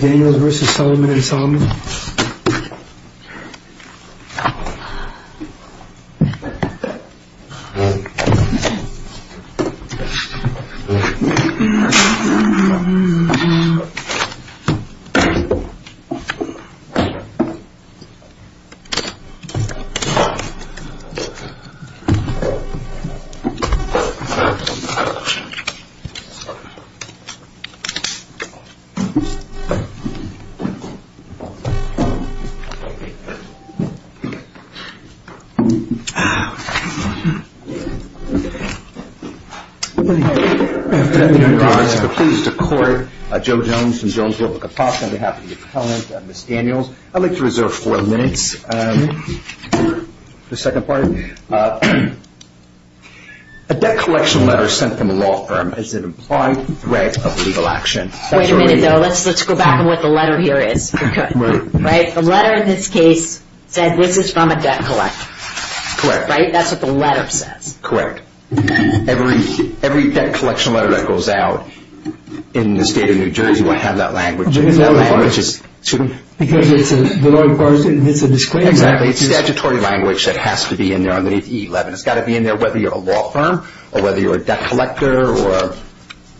Daniels v. Solomon&Solomon,P.C I'd like to reserve four minutes for the second part. A debt collection letter sent from a law firm is an implied threat of legal action. Wait a minute though, let's go back to what the letter here is. The letter in this case said this is from a debt collector. Correct. Right? That's what the letter says. Correct. Every debt collection letter that goes out in the state of New Jersey will have that language in it. Because it's a disclaimer. Exactly. It's a statutory language that has to be in there. It's got to be in there whether you're a law firm or whether you're a debt collector or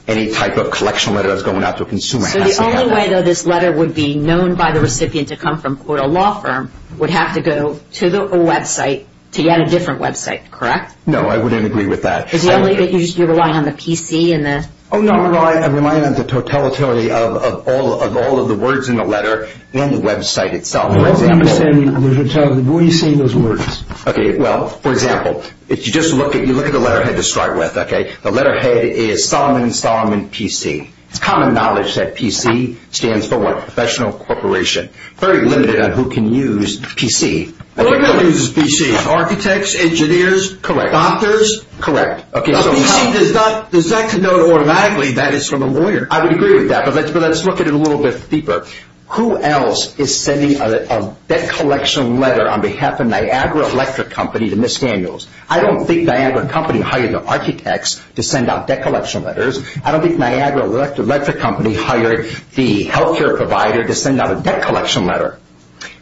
any type of collection letter that's going out to a consumer. So the only way this letter would be known by the recipient to come from a law firm would have to go to a website, to yet a different website, correct? No, I wouldn't agree with that. Is it only that you rely on the P.C.? No, I rely on the totality of all of the words in the letter and the website itself. What do you say in those words? For example, if you look at the letterhead to start with, the letterhead is Solomon, Solomon, P.C. It's common knowledge that P.C. stands for what? Professional Corporation. Very limited on who can use P.C. Who can use P.C.? Architects? Engineers? Doctors? Correct. Does that denote automatically that it's from a lawyer? I would agree with that, but let's look at it a little bit deeper. Who else is sending a debt collection letter on behalf of Niagara Electric Company to Ms. Daniels? I don't think Niagara Company hired the architects to send out debt collection letters. I don't think Niagara Electric Company hired the health care provider to send out a debt collection letter.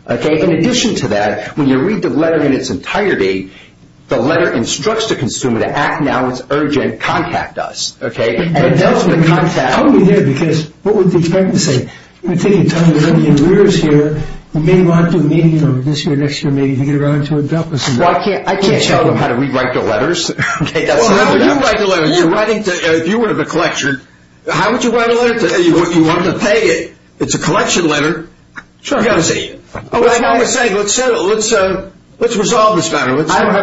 In addition to that, when you read the letter in its entirety, the letter instructs the consumer to act now, it's urgent, contact us. I'm only here because what would they expect me to say? I'm going to take a ton of your letters here. We may go out to a meeting this year, next year, maybe you can get around to adopting them. I can't tell them how to rewrite the letters. If you were in the collection, how would you write a letter? You want to pay it. It's a collection letter. Sure. Let's resolve this matter. I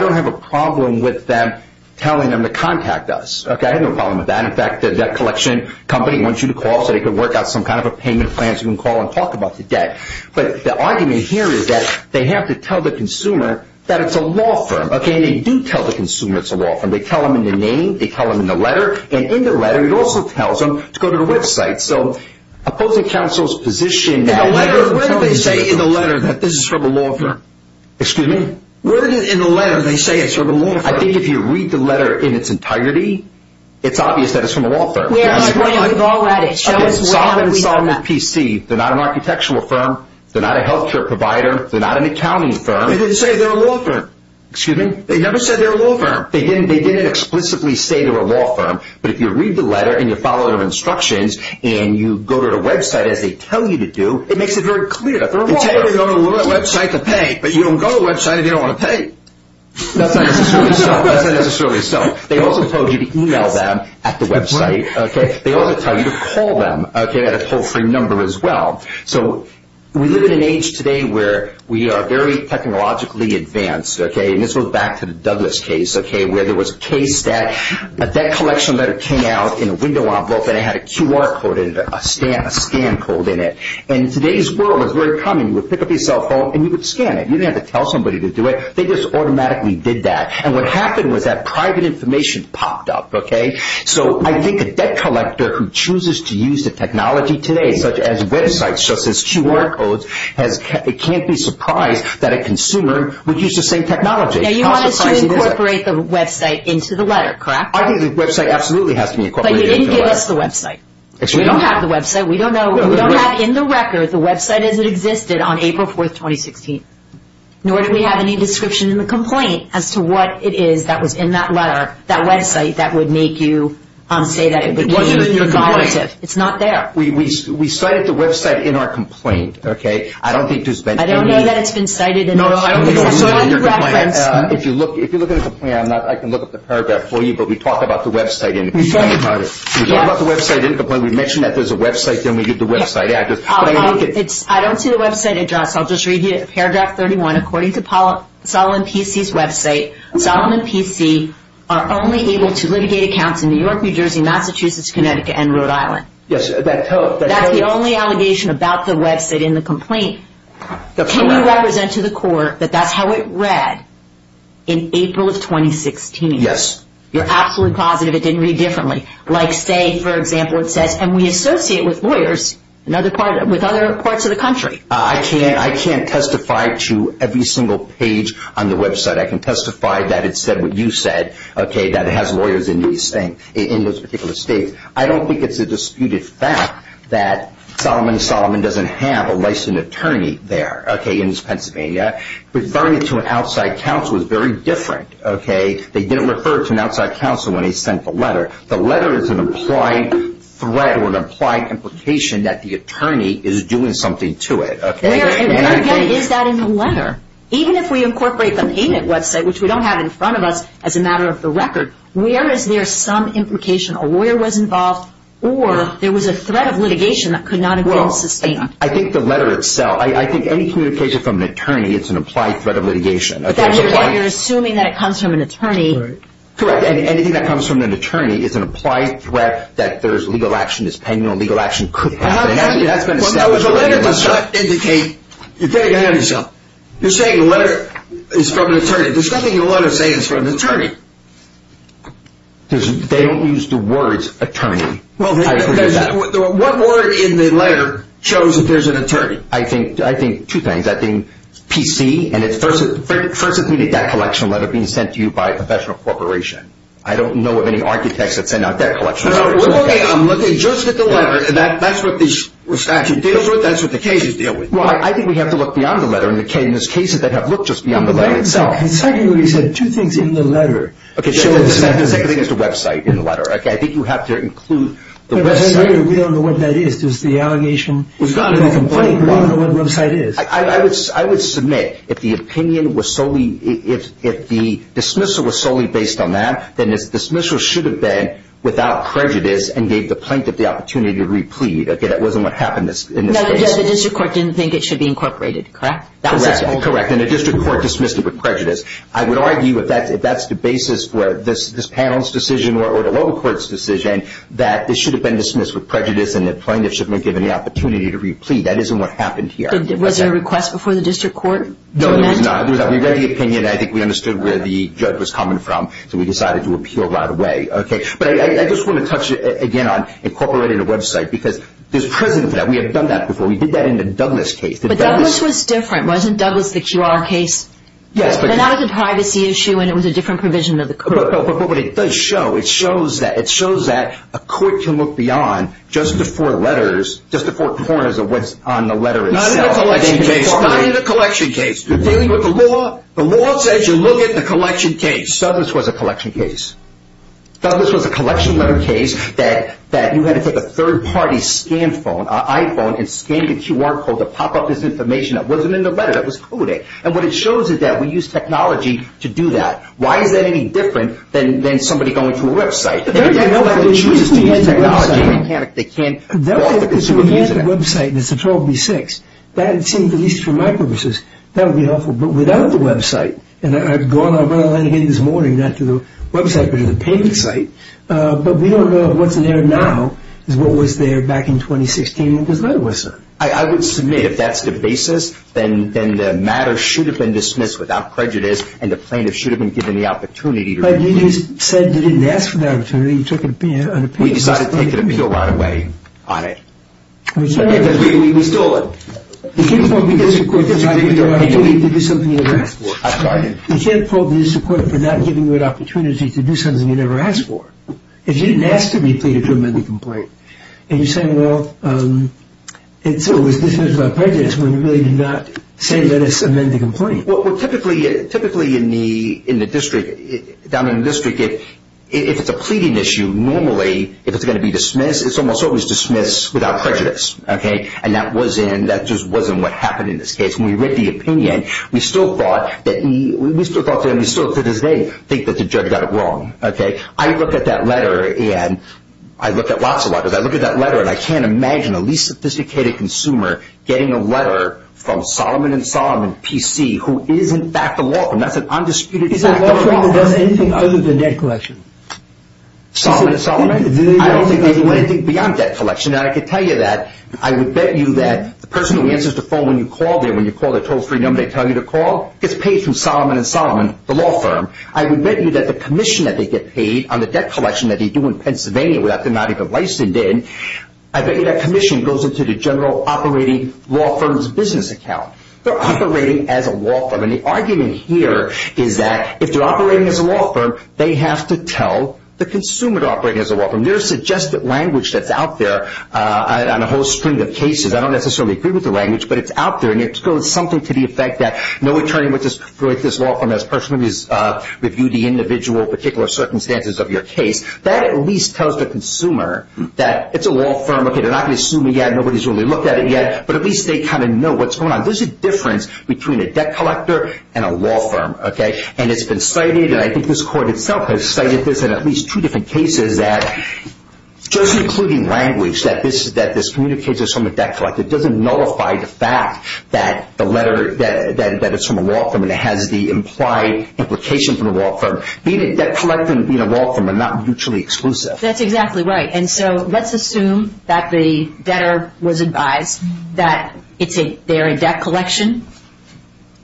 don't have a problem with them telling them to contact us. I have no problem with that. In fact, the debt collection company wants you to call so they can work out some kind of a payment plan so you can call and talk about the debt. But the argument here is that they have to tell the consumer that it's a law firm. And they do tell the consumer it's a law firm. They tell them in the name. They tell them in the letter. And in the letter, it also tells them to go to the website. So opposing counsel's position. Where did they say in the letter that this is from a law firm? Excuse me? Where did in the letter they say it's from a law firm? I think if you read the letter in its entirety, it's obvious that it's from a law firm. We're on a plane. We've all read it. Okay. Solve it and solve it with PC. They're not an architectural firm. They're not a health care provider. They're not an accounting firm. They didn't say they're a law firm. Excuse me? They never said they're a law firm. They didn't explicitly say they're a law firm. But if you read the letter and you follow their instructions and you go to the website as they tell you to do, it makes it very clear that they're a law firm. They tell you to go to the website to pay, but you don't go to the website and you don't want to pay. That's not necessarily so. That's not necessarily so. They also told you to e-mail them at the website. They also tell you to call them at a toll-free number as well. So we live in an age today where we are very technologically advanced. And this goes back to the Douglas case where there was a case that a debt collection letter came out in a window envelope and it had a QR code in it, a scan code in it. And today's world is very common. You would pick up your cell phone and you would scan it. You didn't have to tell somebody to do it. They just automatically did that. And what happened was that private information popped up. So I think a debt collector who chooses to use the technology today, such as websites, such as QR codes, it can't be a surprise that a consumer would use the same technology. Now, you want us to incorporate the website into the letter, correct? I think the website absolutely has to be incorporated into the letter. But you didn't give us the website. We don't have the website. The website doesn't exist on April 4th, 2016. Nor do we have any description in the complaint as to what it is that was in that letter, that website that would make you say that it was in the complaint. It's not there. We cited the website in our complaint. Okay? I don't think there's been any – I don't know that it's been cited in the complaint. No, I don't believe that. If you look at the complaint, I can look up the paragraph for you, but we talked about the website in the complaint. We talked about the website in the complaint. We mentioned that there's a website, then we did the website. I don't see the website address. I'll just read you paragraph 31. According to Solomon P.C.'s website, Solomon P.C. are only able to litigate accounts in New York, New Jersey, Massachusetts, Connecticut, and Rhode Island. Yes. That's the only allegation about the website in the complaint. Can you represent to the court that that's how it read in April of 2016? Yes. You're absolutely positive it didn't read differently. Like, say, for example, it says, and we associate with lawyers with other parts of the country. I can't testify to every single page on the website. I can testify that it said what you said, okay, that it has lawyers in those particular states. I don't think it's a disputed fact that Solomon P.C. doesn't have a licensed attorney there, okay, in Pennsylvania. Referring it to an outside counsel is very different, okay? They didn't refer it to an outside counsel when they sent the letter. The letter is an implied threat or an implied implication that the attorney is doing something to it, okay? Where, again, is that in the letter? Even if we incorporate the payment website, which we don't have in front of us, as a matter of the record, where is there some implication a lawyer was involved or there was a threat of litigation that could not have been sustained? Well, I think the letter itself, I think any communication from an attorney is an implied threat of litigation. You're assuming that it comes from an attorney. Correct. And anything that comes from an attorney is an implied threat that there is legal action, there's penal legal action could happen, and that's been established. Well, the letter does not indicate. You're saying the letter is from an attorney. There's nothing in the letter saying it's from an attorney. They don't use the words attorney. What word in the letter shows that there's an attorney? I think two things. First, it's going to be a debt collection letter being sent to you by a professional corporation. I don't know of any architects that send out debt collection letters. Okay, I'm looking just at the letter. That's what the statute deals with. That's what the cases deal with. Well, I think we have to look beyond the letter, and there's cases that have looked just beyond the letter itself. And secondly, you said two things in the letter. Okay, the second thing is the website in the letter. I think you have to include the website. We don't know what that is. It's not a complaint. We don't know what the website is. I would submit if the opinion was solely – if the dismissal was solely based on that, then the dismissal should have been without prejudice and gave the plaintiff the opportunity to replead. Okay, that wasn't what happened in this case. No, the district court didn't think it should be incorporated, correct? Correct, and the district court dismissed it with prejudice. I would argue if that's the basis for this panel's decision or the local court's decision, that it should have been dismissed with prejudice and the plaintiff should have been given the opportunity to replead. That isn't what happened here. Was there a request before the district court? No, there was not. We read the opinion. I think we understood where the judge was coming from, so we decided to appeal right away. Okay, but I just want to touch again on incorporating a website because there's precedent for that. We have done that before. We did that in the Douglas case. But Douglas was different, wasn't Douglas the QR case? Yes, but – But now it's a privacy issue and it was a different provision of the court. But it does show. It shows that a court can look beyond just the four letters, just the four corners of what's on the letter itself. Not in the collection case. Not in the collection case. You're dealing with the law. The law says you look at the collection case. Douglas was a collection case. Douglas was a collection letter case that you had to take a third-party scan phone, iPhone, and scan the QR code to pop up this information that wasn't in the letter, that was coded. And what it shows is that we used technology to do that. Why is that any different than somebody going to a website? Nobody chooses to use technology. They can't. They can't. All the consumers use it. That would be if we had a website that's a 12B6. That would seem, at least for my purposes, that would be awful. But without the website, and I've gone over that again this morning, not to the website but to the payment site, but we don't know what's there now is what was there back in 2016 when this letter was sent. I would submit if that's the basis, then the matter should have been dismissed without prejudice and the plaintiff should have been given the opportunity. But you just said you didn't ask for that opportunity. You took an opinion on a payment system. We decided to take an opinion right away on it. We stole it. You can't fault the district court for not giving you an opportunity to do something you never asked for. I'm sorry? You can't fault the district court for not giving you an opportunity to do something you never asked for. If you didn't ask to replete it to amend the complaint, and you're saying, well, and so it was dismissed without prejudice when you really did not say let us amend the complaint. Well, typically in the district, down in the district, if it's a pleading issue, normally if it's going to be dismissed, it's almost always dismissed without prejudice. And that just wasn't what happened in this case. When we read the opinion, we still thought to this day think that the judge got it wrong. I looked at that letter, and I looked at lots of letters. That's an undisputed fact. Is there a law firm that does anything other than debt collection? Solomon & Solomon? I don't think they do anything beyond debt collection. And I can tell you that. I would bet you that the person who answers the phone when you call there, when you call the Total Freedom, they tell you to call, gets paid through Solomon & Solomon, the law firm. I would bet you that the commission that they get paid on the debt collection that they do in Pennsylvania without their not even licensed in, I bet you that commission goes into the general operating law firm's business account. They're operating as a law firm. And the argument here is that if they're operating as a law firm, they have to tell the consumer to operate as a law firm. There's suggested language that's out there on a whole string of cases. I don't necessarily agree with the language, but it's out there. And it goes something to the effect that no attorney would just write this law firm as personally review the individual particular circumstances of your case. That at least tells the consumer that it's a law firm. Okay, they're not going to sue me yet. Nobody's really looked at it yet. But at least they kind of know what's going on. There's a difference between a debt collector and a law firm, okay? And it's been cited, and I think this court itself has cited this in at least two different cases, that just including language that this communicates as from a debt collector doesn't nullify the fact that the letter, that it's from a law firm and it has the implied implication from the law firm. Being a debt collector and being a law firm are not mutually exclusive. That's exactly right. And so let's assume that the debtor was advised that they're in debt collection,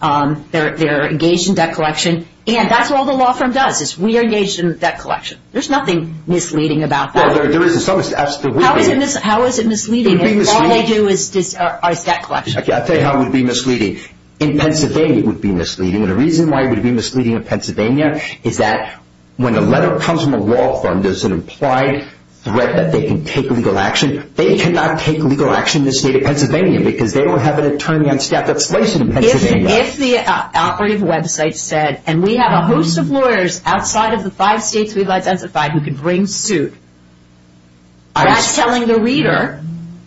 they're engaged in debt collection, and that's all the law firm does is we are engaged in debt collection. There's nothing misleading about that. Well, there is in some instances. How is it misleading if all they do is debt collection? I'll tell you how it would be misleading. In Pennsylvania it would be misleading, and the reason why it would be misleading in Pennsylvania is that when a letter comes from a law firm, there's an implied threat that they can take legal action. They cannot take legal action in the state of Pennsylvania because they don't have an attorney on staff that's placed in Pennsylvania. If the operative website said, and we have a host of lawyers outside of the five states we've identified who can bring suit, that's telling the reader,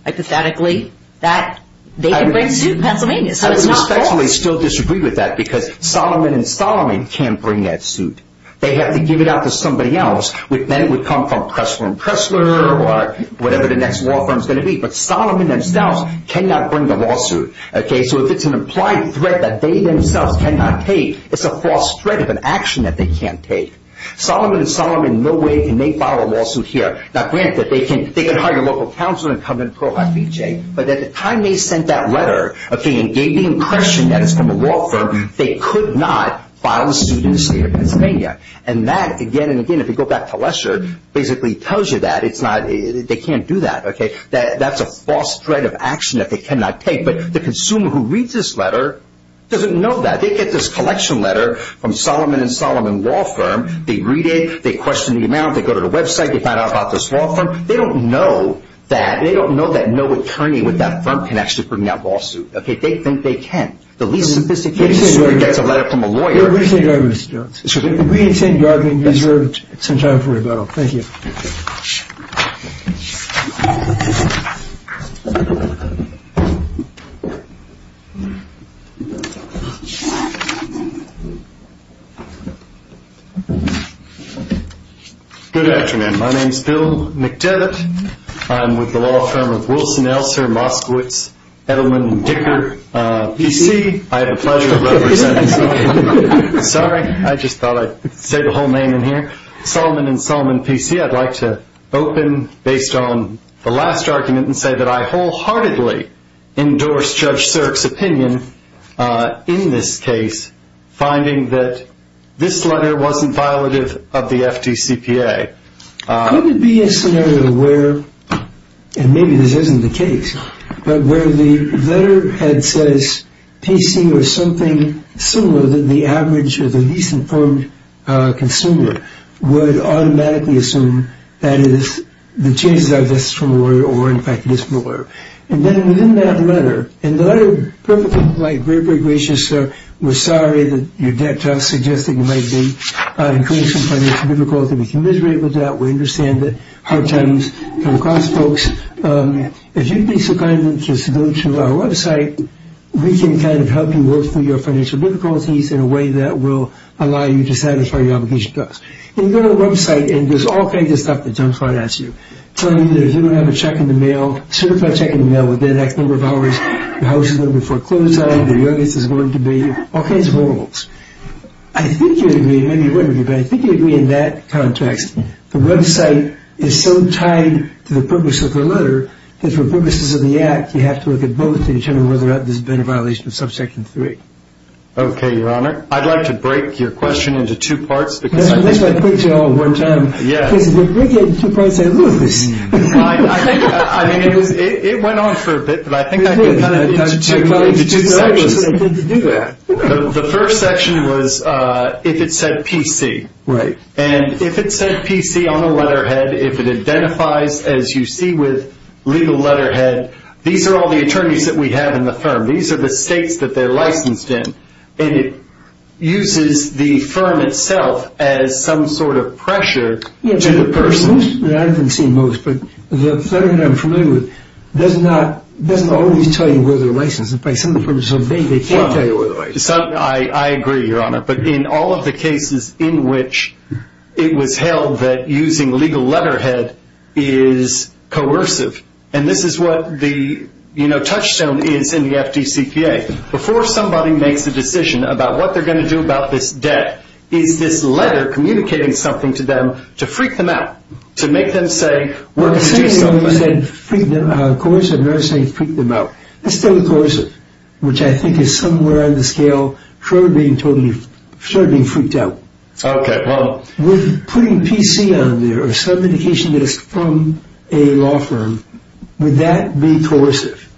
hypothetically, that they can bring suit in Pennsylvania. So it's not false. Lawfully still disagree with that because Solomon & Solomon can't bring that suit. They have to give it out to somebody else, and then it would come from Pressler & Pressler or whatever the next law firm is going to be. But Solomon themselves cannot bring the lawsuit. So if it's an implied threat that they themselves cannot take, it's a false threat of an action that they can't take. Solomon & Solomon in no way can make file a lawsuit here. Now, granted, they can hire a local counselor and come to Pearl High Beach, but at the time they sent that letter and gave the impression that it's from a law firm, they could not file a suit in the state of Pennsylvania. And that, again and again, if you go back to Lesher, basically tells you that they can't do that. That's a false threat of action that they cannot take. But the consumer who reads this letter doesn't know that. They get this collection letter from Solomon & Solomon law firm. They read it. They question the amount. They go to the website. They find out about this law firm. They don't know that. They don't know that no attorney with that firm can actually bring out a lawsuit. They think they can. The least simplistic case is where it gets a letter from a lawyer. We in St. Gardner deserve some time for rebuttal. Thank you. Good afternoon. My name is Bill McDevitt. I'm with the law firm of Wilson, Elser, Moskowitz, Edelman & Dicker, P.C. I have the pleasure of representing Solomon & Solomon, P.C. I'd like to open based on the last argument and say that I wholeheartedly endorse Judge Sirk's opinion in this case, finding that this letter wasn't violative of the FDCPA. Could it be a scenario where, and maybe this isn't the case, but where the letterhead says P.C. or something similar that the average or the least informed consumer would automatically assume that it is, the chances are this is from a lawyer or, in fact, it is from a lawyer. And then within that letter, in the letter, perfectly polite, very, very gracious, Sir, we're sorry that your debt to us suggests that you might be incurring some financial difficulties. We commiserate with that. We understand that hard times come across, folks. If you'd be so kind as to go to our website, we can kind of help you work through your financial difficulties in a way that will allow you to satisfy your obligation to us. If you go to the website and there's all kinds of stuff that jumps right at you, telling you that if you don't have a check in the mail, certify check in the mail within the next number of hours, your house is going to be foreclosed on, your youngest is going to be, all kinds of rules. I think you'd agree, maybe you wouldn't agree, but I think you'd agree in that context, the website is so tied to the purpose of the letter that for purposes of the act, you have to look at both to determine whether or not there's been a violation of Subsection 3. Okay, Your Honor. I'd like to break your question into two parts because I think... I mean, it went on for a bit, but I think I can kind of get into two sections. The first section was if it said PC. Right. And if it said PC on the letterhead, if it identifies, as you see with legal letterhead, these are all the attorneys that we have in the firm. These are the states that they're licensed in. And it uses the firm itself as some sort of pressure to the person. I haven't seen most, but the third one I'm familiar with, doesn't always tell you where they're licensed. In fact, some of the purposes are vague. They can't tell you where they're licensed. I agree, Your Honor. But in all of the cases in which it was held that using legal letterhead is coercive, and this is what the touchstone is in the FDCPA. Before somebody makes a decision about what they're going to do about this debt, is this letter communicating something to them to freak them out, to make them say, we're going to do something. Well, it's saying it when you said coercive. You're not saying freak them out. It's totally coercive, which I think is somewhere on the scale of totally being freaked out. Okay. With putting PC on there or some indication that it's from a law firm, would that be coercive?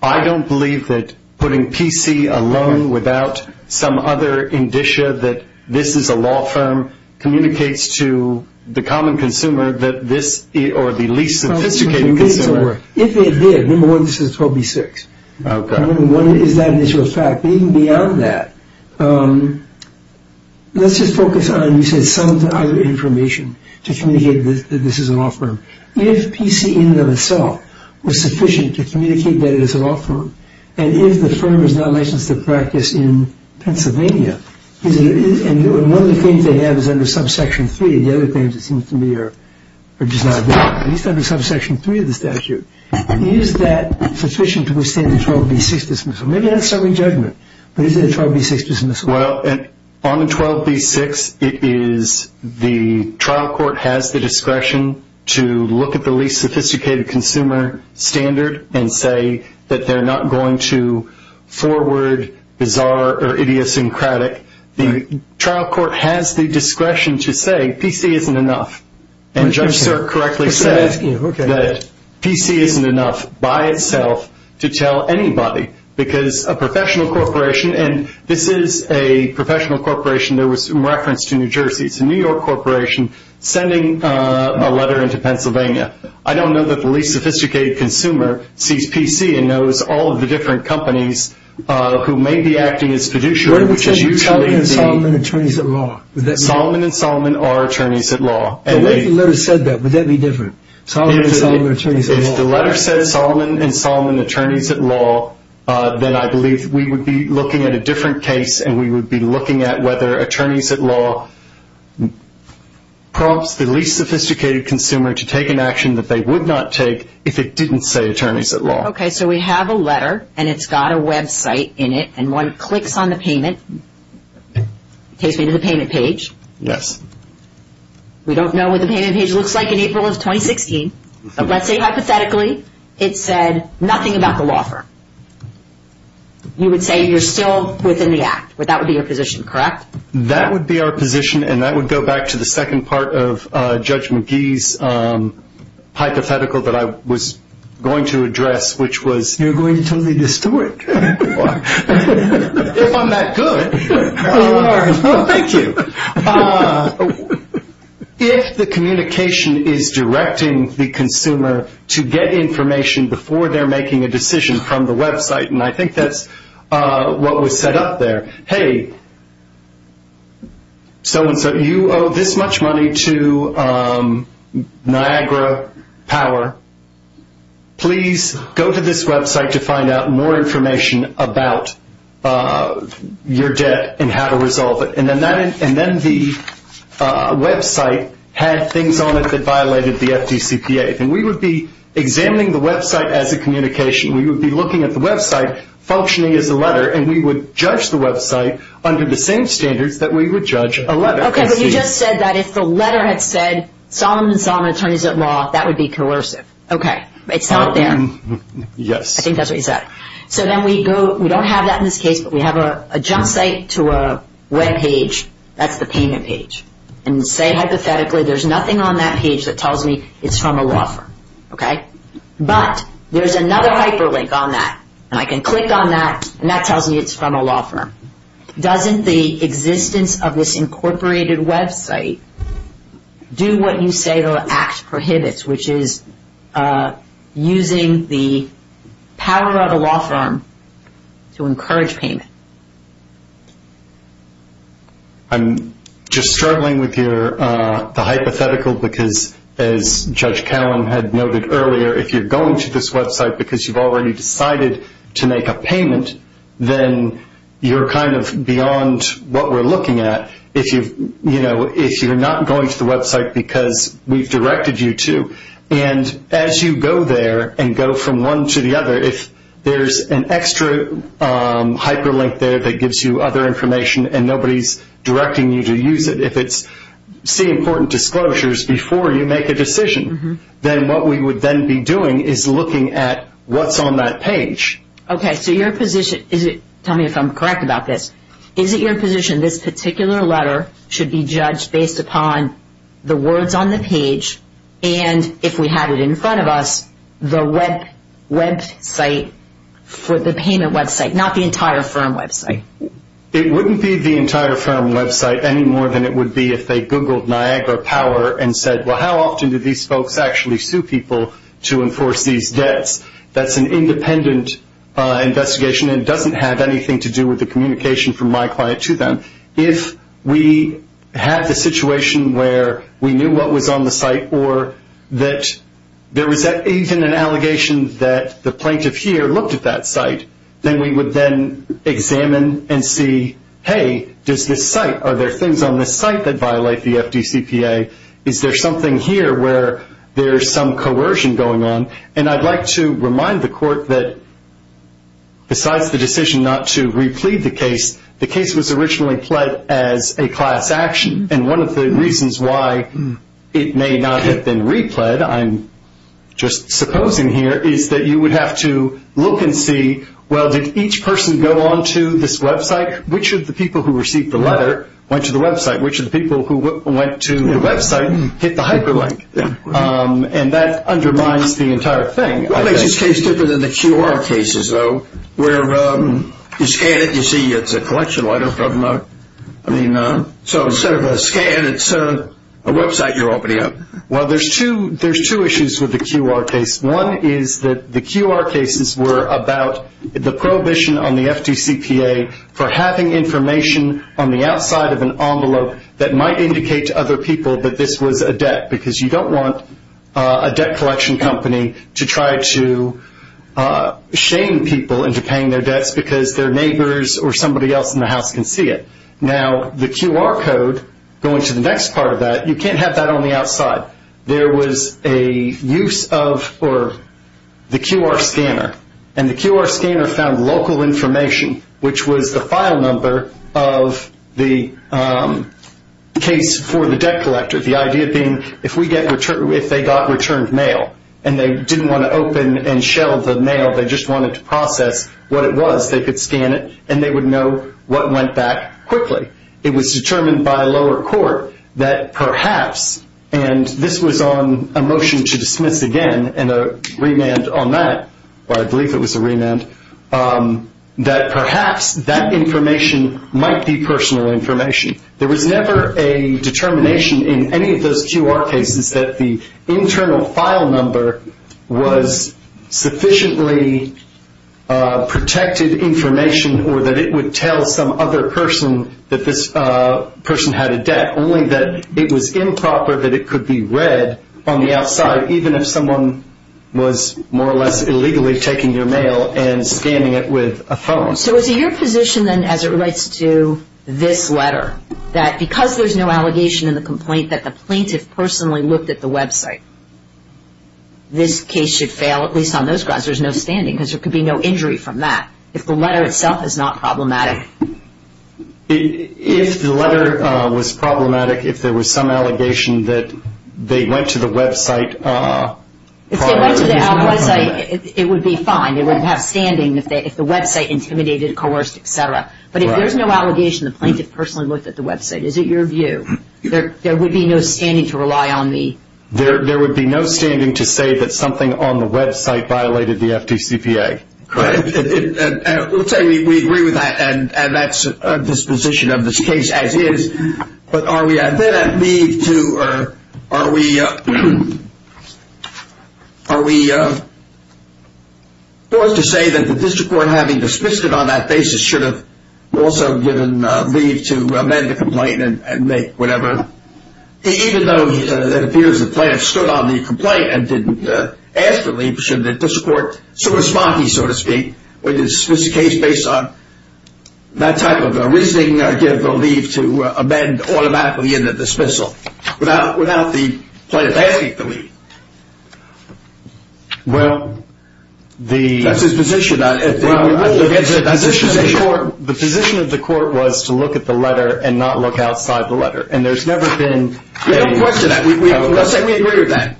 I don't believe that putting PC alone without some other indicia that this is a law firm communicates to the common consumer or the least sophisticated consumer. If it did, number one, this is 12B6. Okay. One is that initial fact. Even beyond that, let's just focus on you said some other information to communicate that this is a law firm. If PC in and of itself was sufficient to communicate that it is a law firm, and if the firm is not licensed to practice in Pennsylvania, and one of the claims they have is under subsection 3, the other claims it seems to me are just not valid, at least under subsection 3 of the statute, is that sufficient to withstand the 12B6 dismissal? Maybe that's a stubborn judgment, but is it a 12B6 dismissal? Well, on 12B6 it is the trial court has the discretion to look at the least sophisticated consumer standard and say that they're not going to forward bizarre or idiosyncratic. The trial court has the discretion to say PC isn't enough. And Judge Sirk correctly said that PC isn't enough by itself to tell anybody because a professional corporation, and this is a professional corporation. There was some reference to New Jersey. It's a New York corporation sending a letter into Pennsylvania. I don't know that the least sophisticated consumer sees PC and knows all of the different companies who may be acting as fiduciary, which is usually the – What if they said Solomon and Solomon are attorneys at law? Solomon and Solomon are attorneys at law. What if the letter said that? Would that be different? Solomon and Solomon are attorneys at law. Then I believe we would be looking at a different case, and we would be looking at whether attorneys at law prompts the least sophisticated consumer to take an action that they would not take if it didn't say attorneys at law. Okay, so we have a letter, and it's got a website in it, and one clicks on the payment. Takes me to the payment page. Yes. We don't know what the payment page looks like in April of 2016, but let's say hypothetically it said nothing about the law firm. You would say you're still within the act. That would be your position, correct? That would be our position, and that would go back to the second part of Judge McGee's hypothetical that I was going to address, which was – You're going to totally destroy it. If I'm that good. You are. Thank you. If the communication is directing the consumer to get information before they're making a decision from the website, and I think that's what was set up there, hey, so-and-so, you owe this much money to Niagara Power. Please go to this website to find out more information about your debt and how to resolve it. And then the website had things on it that violated the FDCPA, and we would be examining the website as a communication. We would be looking at the website functioning as a letter, and we would judge the website under the same standards that we would judge a letter. Okay, but you just said that if the letter had said Solomon and Solomon Attorneys at Law, that would be coercive. Okay. It's not there. Yes. I think that's what you said. So then we go – we don't have that in this case, but we have a jump site to a webpage. That's the payment page. And say hypothetically there's nothing on that page that tells me it's from a law firm. Okay? But there's another hyperlink on that, and I can click on that, and that tells me it's from a law firm. Doesn't the existence of this incorporated website do what you say the Act prohibits, which is using the power of a law firm to encourage payment? I'm just struggling with the hypothetical because, as Judge Callum had noted earlier, if you're going to this website because you've already decided to make a payment, then you're kind of beyond what we're looking at. If you're not going to the website because we've directed you to, and as you go there and go from one to the other, if there's an extra hyperlink there that gives you other information and nobody's directing you to use it, if it's see important disclosures before you make a decision, then what we would then be doing is looking at what's on that page. Okay. So your position – tell me if I'm correct about this. Is it your position this particular letter should be judged based upon the words on the page and, if we had it in front of us, the website for the payment website, not the entire firm website? It wouldn't be the entire firm website any more than it would be if they Googled Niagara Power and said, well, how often do these folks actually sue people to enforce these debts? That's an independent investigation and doesn't have anything to do with the communication from my client to them. If we had the situation where we knew what was on the site or that there was even an allegation that the plaintiff here looked at that site, then we would then examine and see, hey, does this site – are there things on this site that violate the FDCPA? Is there something here where there's some coercion going on? And I'd like to remind the court that, besides the decision not to replead the case, the case was originally pled as a class action, and one of the reasons why it may not have been repled, I'm just supposing here, is that you would have to look and see, well, did each person go on to this website? Which of the people who received the letter went to the website? Which of the people who went to the website hit the hyperlink? And that undermines the entire thing. What makes this case different than the QR cases, though, where you scan it, you see it's a collection letter from the – so instead of a scan, it's a website you're opening up? Well, there's two issues with the QR case. One is that the QR cases were about the prohibition on the FDCPA for having information on the outside of an envelope that might indicate to other people that this was a debt, because you don't want a debt collection company to try to shame people into paying their debts because their neighbors or somebody else in the house can see it. Now, the QR code, going to the next part of that, you can't have that on the outside. There was a use of the QR scanner, and the QR scanner found local information, which was the file number of the case for the debt collector, the idea being if they got returned mail and they didn't want to open and shell the mail, they just wanted to process what it was, they could scan it and they would know what went back quickly. It was determined by a lower court that perhaps – and this was on a motion to dismiss again and a remand on that, or I believe it was a remand – that perhaps that information might be personal information. There was never a determination in any of those QR cases that the internal file number was sufficiently protected information or that it would tell some other person that this person had a debt, only that it was improper that it could be read on the outside, even if someone was more or less illegally taking your mail and scanning it with a phone. So is it your position then, as it relates to this letter, that because there's no allegation in the complaint that the plaintiff personally looked at the website, this case should fail, at least on those grounds, there's no standing, because there could be no injury from that, if the letter itself is not problematic? If the letter was problematic, if there was some allegation that they went to the website… If they went to the website, it would be fine. It would have standing if the website intimidated, coerced, etc. But if there's no allegation the plaintiff personally looked at the website, is it your view? There would be no standing to rely on the… There would be no standing to say that something on the website violated the FDCPA. We'll tell you we agree with that, and that's our disposition of this case, as is. But are we then at leave to… Are we forced to say that the district court, having dismissed it on that basis, should have also given leave to amend the complaint and make whatever… Even though it appears the plaintiff stood on the complaint and didn't ask for leave, should the district court sort of sponky, so to speak, or dismiss the case based on that type of reasoning, or give the leave to amend automatically in the dismissal without the plaintiff asking for leave? Well, the… That's his position. The position of the court was to look at the letter and not look outside the letter. And there's never been… We don't question that. We agree with that.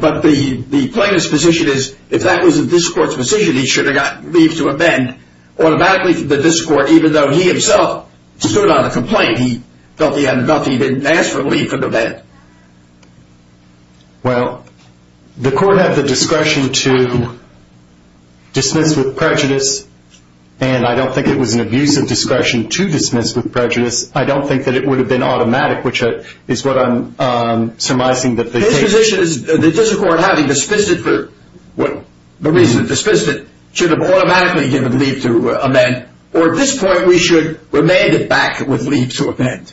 But the plaintiff's position is if that was the district court's position, he should have got leave to amend automatically to the district court, even though he himself stood on the complaint. He felt he had enough. He didn't ask for leave to amend. Well, the court had the discretion to dismiss with prejudice, and I don't think it was an abusive discretion to dismiss with prejudice. I don't think that it would have been automatic, which is what I'm surmising that the case… The position is the district court, having dismissed it for the reason it dismissed it, should have automatically given leave to amend, or at this point we should remand it back with leave to amend.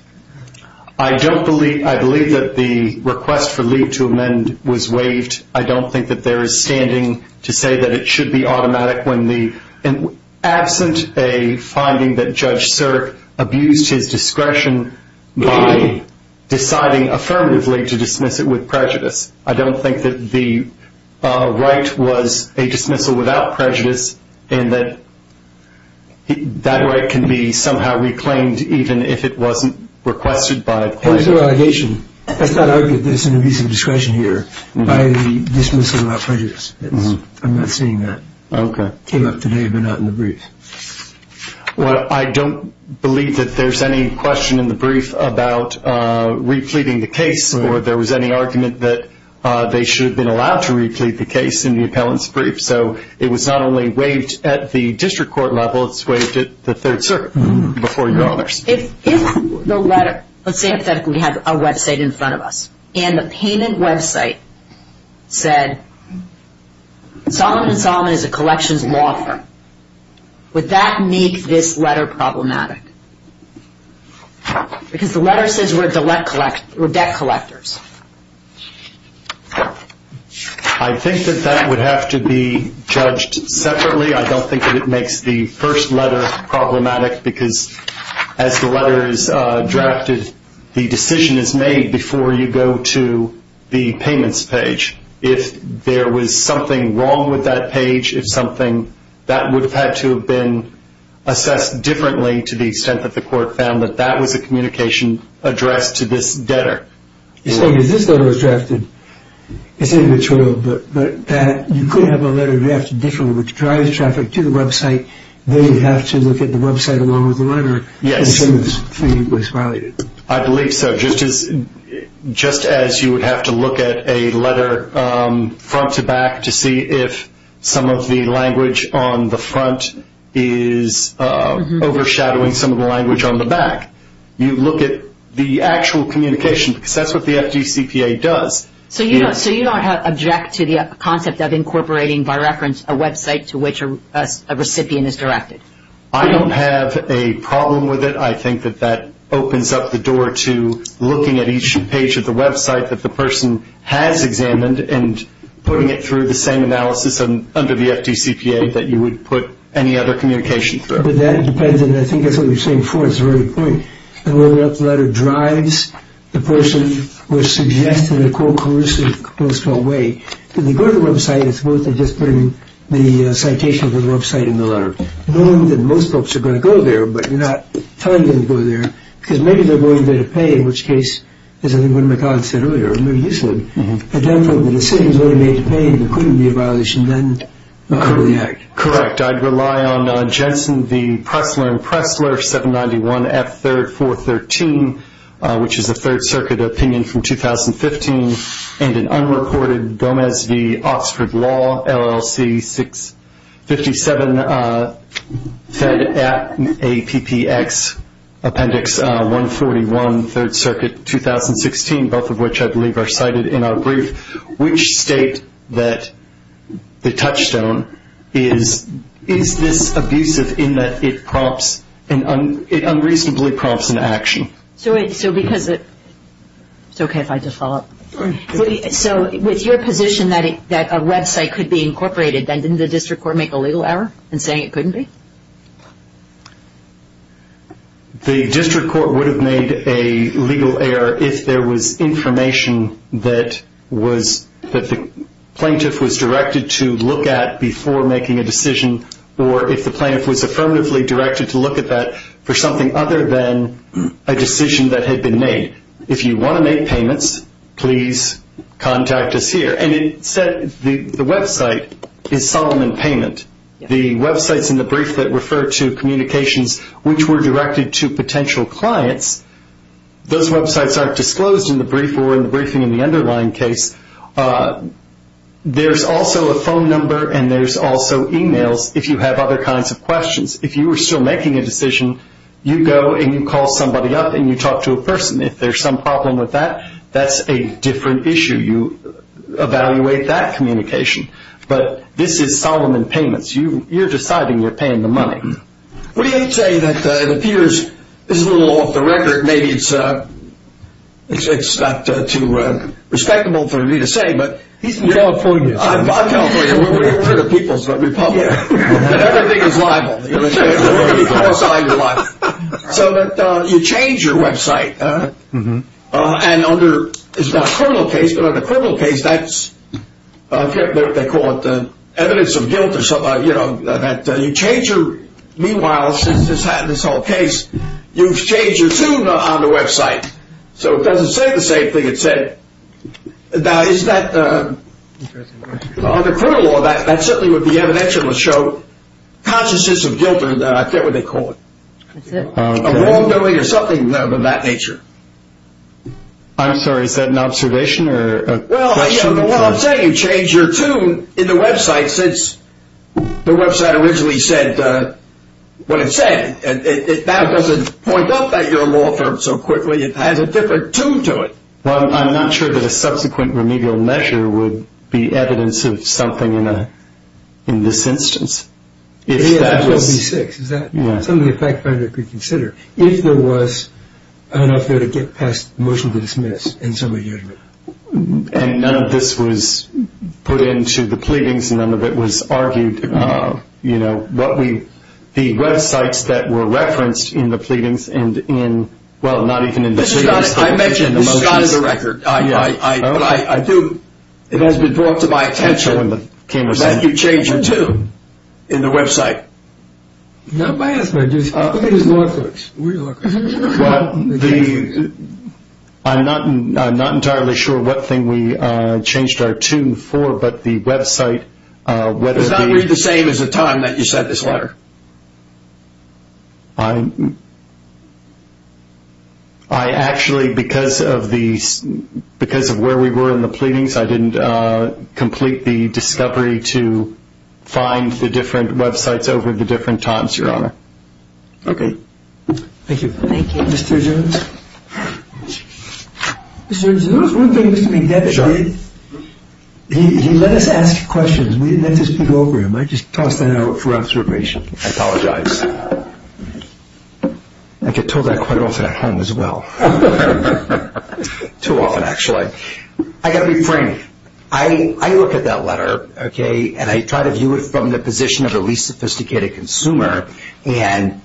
I don't believe… I believe that the request for leave to amend was waived. I don't think that there is standing to say that it should be automatic when the… I don't think that the right was a dismissal without prejudice, and that that right can be somehow reclaimed even if it wasn't requested by the plaintiff. It was an allegation. It's not argued that there's an abusive discretion here by the dismissal without prejudice. I'm not seeing that. Okay. It came up today, but not in the brief. Well, I don't believe that there's any question in the brief about repleting the case or there was any argument that they should have been allowed to replete the case in the appellant's brief. So it was not only waived at the district court level, it's waived at the Third Circuit before your honors. If the letter… Let's say hypothetically we have a website in front of us, and the payment website said Solomon & Solomon is a collections law firm. Would that make this letter problematic? Because the letter says we're debt collectors. I think that that would have to be judged separately. I don't think that it makes the first letter problematic because as the letter is drafted, the decision is made before you go to the payments page. If there was something wrong with that page, if something that would have had to have been assessed differently to the extent that the court found that that was a communication addressed to this debtor. You're saying if this letter was drafted, you could have a letter drafted differently, which drives traffic to the website, then you'd have to look at the website along with the letter as soon as the fee was violated. I believe so. Just as you would have to look at a letter front to back to see if some of the language on the front is overshadowing some of the language on the back. You look at the actual communication because that's what the FDCPA does. So you don't object to the concept of incorporating, by reference, a website to which a recipient is directed? I don't have a problem with it. I think that that opens up the door to looking at each page of the website that the person has examined and putting it through the same analysis under the FDCPA that you would put any other communication through. That depends. I think that's what you were saying before. It's a very good point. Whether or not the letter drives the person or suggests in a coercive, close call way to go to the website is worth just putting the citation of the website in the letter. I know that most folks are going to go there, but you're not telling them to go there because maybe they're going there to pay, in which case, as I think one of my colleagues said earlier, or maybe you said, the decision is really made to pay and there couldn't be a violation then under the Act. Correct. I'd rely on Jensen v. Pressler and Pressler, 791F3-413, which is a Third Circuit opinion from 2015, and an unreported Gomez v. Oxford Law, LLC, 657FedAPPX, Appendix 141, Third Circuit, 2016, both of which I believe are cited in our brief. Which state that the touchstone is this abusive in that it prompts, it unreasonably prompts an action? It's okay if I just follow up. So with your position that a website could be incorporated, then didn't the district court make a legal error in saying it couldn't be? The district court would have made a legal error if there was information that the plaintiff was directed to look at before making a decision or if the plaintiff was affirmatively directed to look at that for something other than a decision that had been made. If you want to make payments, please contact us here. And it said the website is Solomon Payment. The websites in the brief that refer to communications which were directed to potential clients, those websites aren't disclosed in the brief or in the briefing in the underlying case. There's also a phone number and there's also e-mails if you have other kinds of questions. If you were still making a decision, you go and you call somebody up and you talk to a person. If there's some problem with that, that's a different issue. You evaluate that communication. But this is Solomon Payments. You're deciding you're paying the money. What do you say that it appears this is a little off the record. Maybe it's not too respectable for me to say. He's in California. I'm not in California. We're in the people's republic. Everything is liable. So you change your website. It's not a criminal case, but in a criminal case, they call it evidence of guilt. Meanwhile, since this whole case, you've changed your Zoom on the website. So it doesn't say the same thing it said. Now, is that a criminal law? That certainly would be evidential to show consciousness of guilt or I forget what they call it. A wrongdoing or something of that nature. I'm sorry. Is that an observation or a question? Well, what I'm saying, you changed your tune in the website since the website originally said what it said. That doesn't point out that you're a law firm so quickly. It has a different tune to it. Well, I'm not sure that a subsequent remedial measure would be evidence of something in this instance. Yeah, that would be six. Is that something a fact finder could consider? If there was enough there to get past the motion to dismiss and somebody had to. And none of this was put into the pleadings. None of it was argued. You know, the websites that were referenced in the pleadings and in, well, not even in the pleadings. I mentioned this is not in the record. But I do, it has been brought to my attention that you changed your tune in the website. Not by us, but I think it was law clerks. Well, I'm not entirely sure what thing we changed our tune for, but the website. Does not read the same as the time that you sent this letter. I actually, because of where we were in the pleadings, I didn't complete the discovery to find the different websites over the different times, Your Honor. Okay. Thank you. Thank you, Mr. Jones. Mr. Jones, there was one thing Mr. McDevitt did. He let us ask questions. We didn't have to speak over him. I just tossed that out for observation. I apologize. I get told that quite often at home as well. Too often, actually. I got to be frank. I look at that letter, okay, and I try to view it from the position of the least sophisticated consumer, and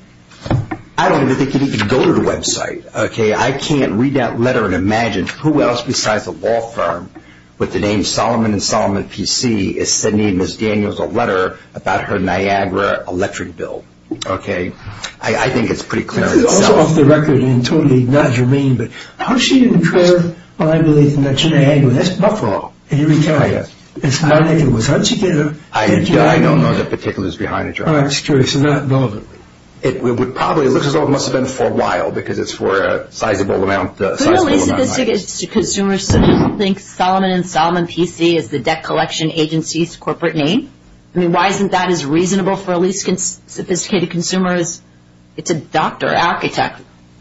I don't even think it could even go to the website, okay. I can't read that letter and imagine who else besides a law firm with the name Solomon and Solomon PC is sending Ms. Daniels a letter about her Niagara electric bill, okay. I think it's pretty clear. This is also off the record, and totally not germane, but how she didn't care, well, I believe, the connection to Niagara. That's Buffalo. And you recount it. It's not like it was her ticket. I don't know the particulars behind it, Your Honor. I'm just curious. It's not relevant. It probably looks as though it must have been for a while because it's for a sizable amount of money. So a least sophisticated consumer thinks Solomon and Solomon PC is the debt collection agency's corporate name? I mean, why isn't that as reasonable for a least sophisticated consumer as it's a doctor, architect,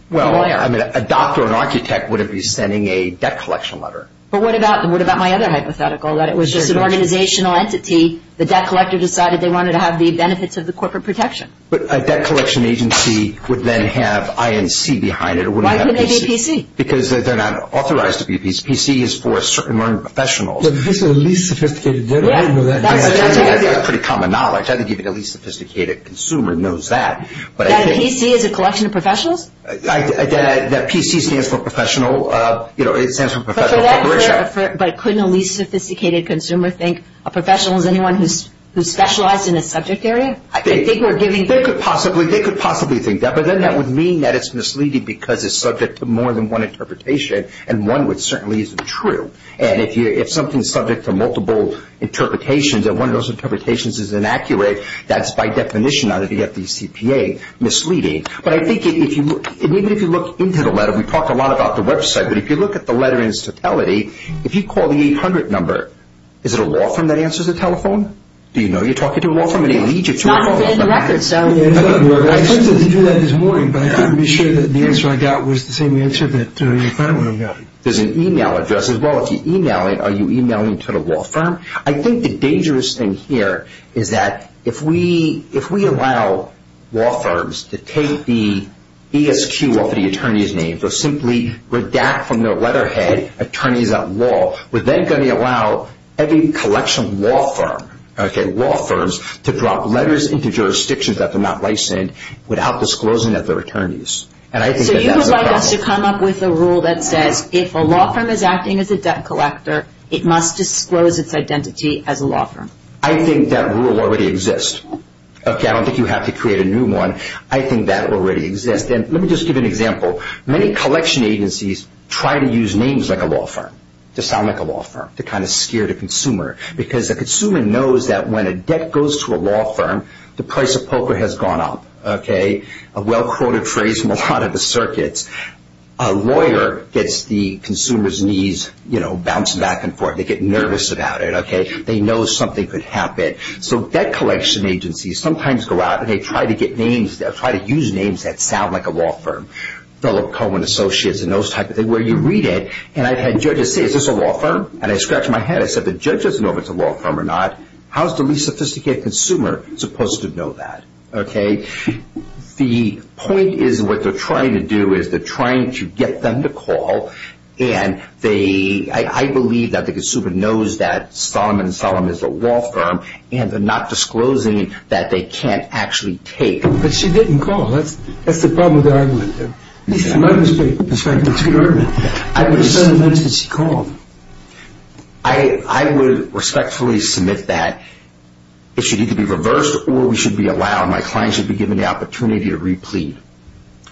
lawyer? Well, I mean, a doctor or an architect wouldn't be sending a debt collection letter. But what about my other hypothetical that it was just an organizational entity. The debt collector decided they wanted to have the benefits of the corporate protection. But a debt collection agency would then have INC behind it or wouldn't have PC. Because they're not authorized to be PC. PC is for certain learned professionals. But PC is a least sophisticated debt. I didn't know that. That's a pretty common knowledge. I think even a least sophisticated consumer knows that. That PC is a collection of professionals? That PC stands for professional, you know, it stands for professional corporation. But couldn't a least sophisticated consumer think a professional is anyone who's specialized in a subject area? I think they could possibly think that, but then that would mean that it's misleading because it's subject to more than one interpretation, and one which certainly isn't true. And if something's subject to multiple interpretations, and one of those interpretations is inaccurate, that's by definition under the FDCPA misleading. But I think even if you look into the letter, we talked a lot about the website, but if you look at the letter in its totality, if you call the 800 number, is it a law firm that answers the telephone? Do you know you're talking to a law firm? It's not in the record, so... I attempted to do that this morning, but I couldn't be sure that the answer I got was the same answer that the other one got. There's an e-mail address as well. If you e-mail it, are you e-mailing to the law firm? I think the dangerous thing here is that if we allow law firms to take the ESQ off of the attorney's name or simply redact from their letterhead attorneys at law, we're then going to allow every collection of law firms to drop letters into jurisdictions that they're not licensed without disclosing that they're attorneys. So you would like us to come up with a rule that says if a law firm is acting as a debt collector, it must disclose its identity as a law firm. I think that rule already exists. I don't think you have to create a new one. I think that already exists. And let me just give you an example. Many collection agencies try to use names like a law firm to sound like a law firm to kind of scare the consumer because the consumer knows that when a debt goes to a law firm, the price of poker has gone up, okay? A well-quoted phrase from a lot of the circuits. A lawyer gets the consumer's knees, you know, bouncing back and forth. They get nervous about it, okay? They know something could happen. So debt collection agencies sometimes go out and they try to get names, they'll try to use names that sound like a law firm. Fellow Cohen Associates and those type of things where you read it and I've had judges say, is this a law firm? And I scratch my head. I said, the judge doesn't know if it's a law firm or not. How is the least sophisticated consumer supposed to know that, okay? The point is what they're trying to do is they're trying to get them to call, and I believe that the consumer knows that Solomon & Solomon is a law firm and they're not disclosing that they can't actually take. But she didn't call. That's the problem with the argument, though. It might be a perspective to the argument. I would respectfully submit that it should either be reversed or we should be allowed, my client should be given the opportunity to re-plead.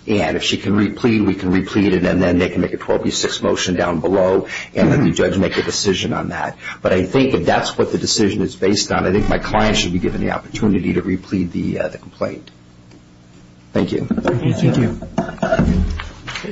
And if she can re-plead, we can re-plead, and then they can make a 12B6 motion down below and let the judge make a decision on that. But I think if that's what the decision is based on, I think my client should be given the opportunity to re-plead the complaint. Thank you. Thank you.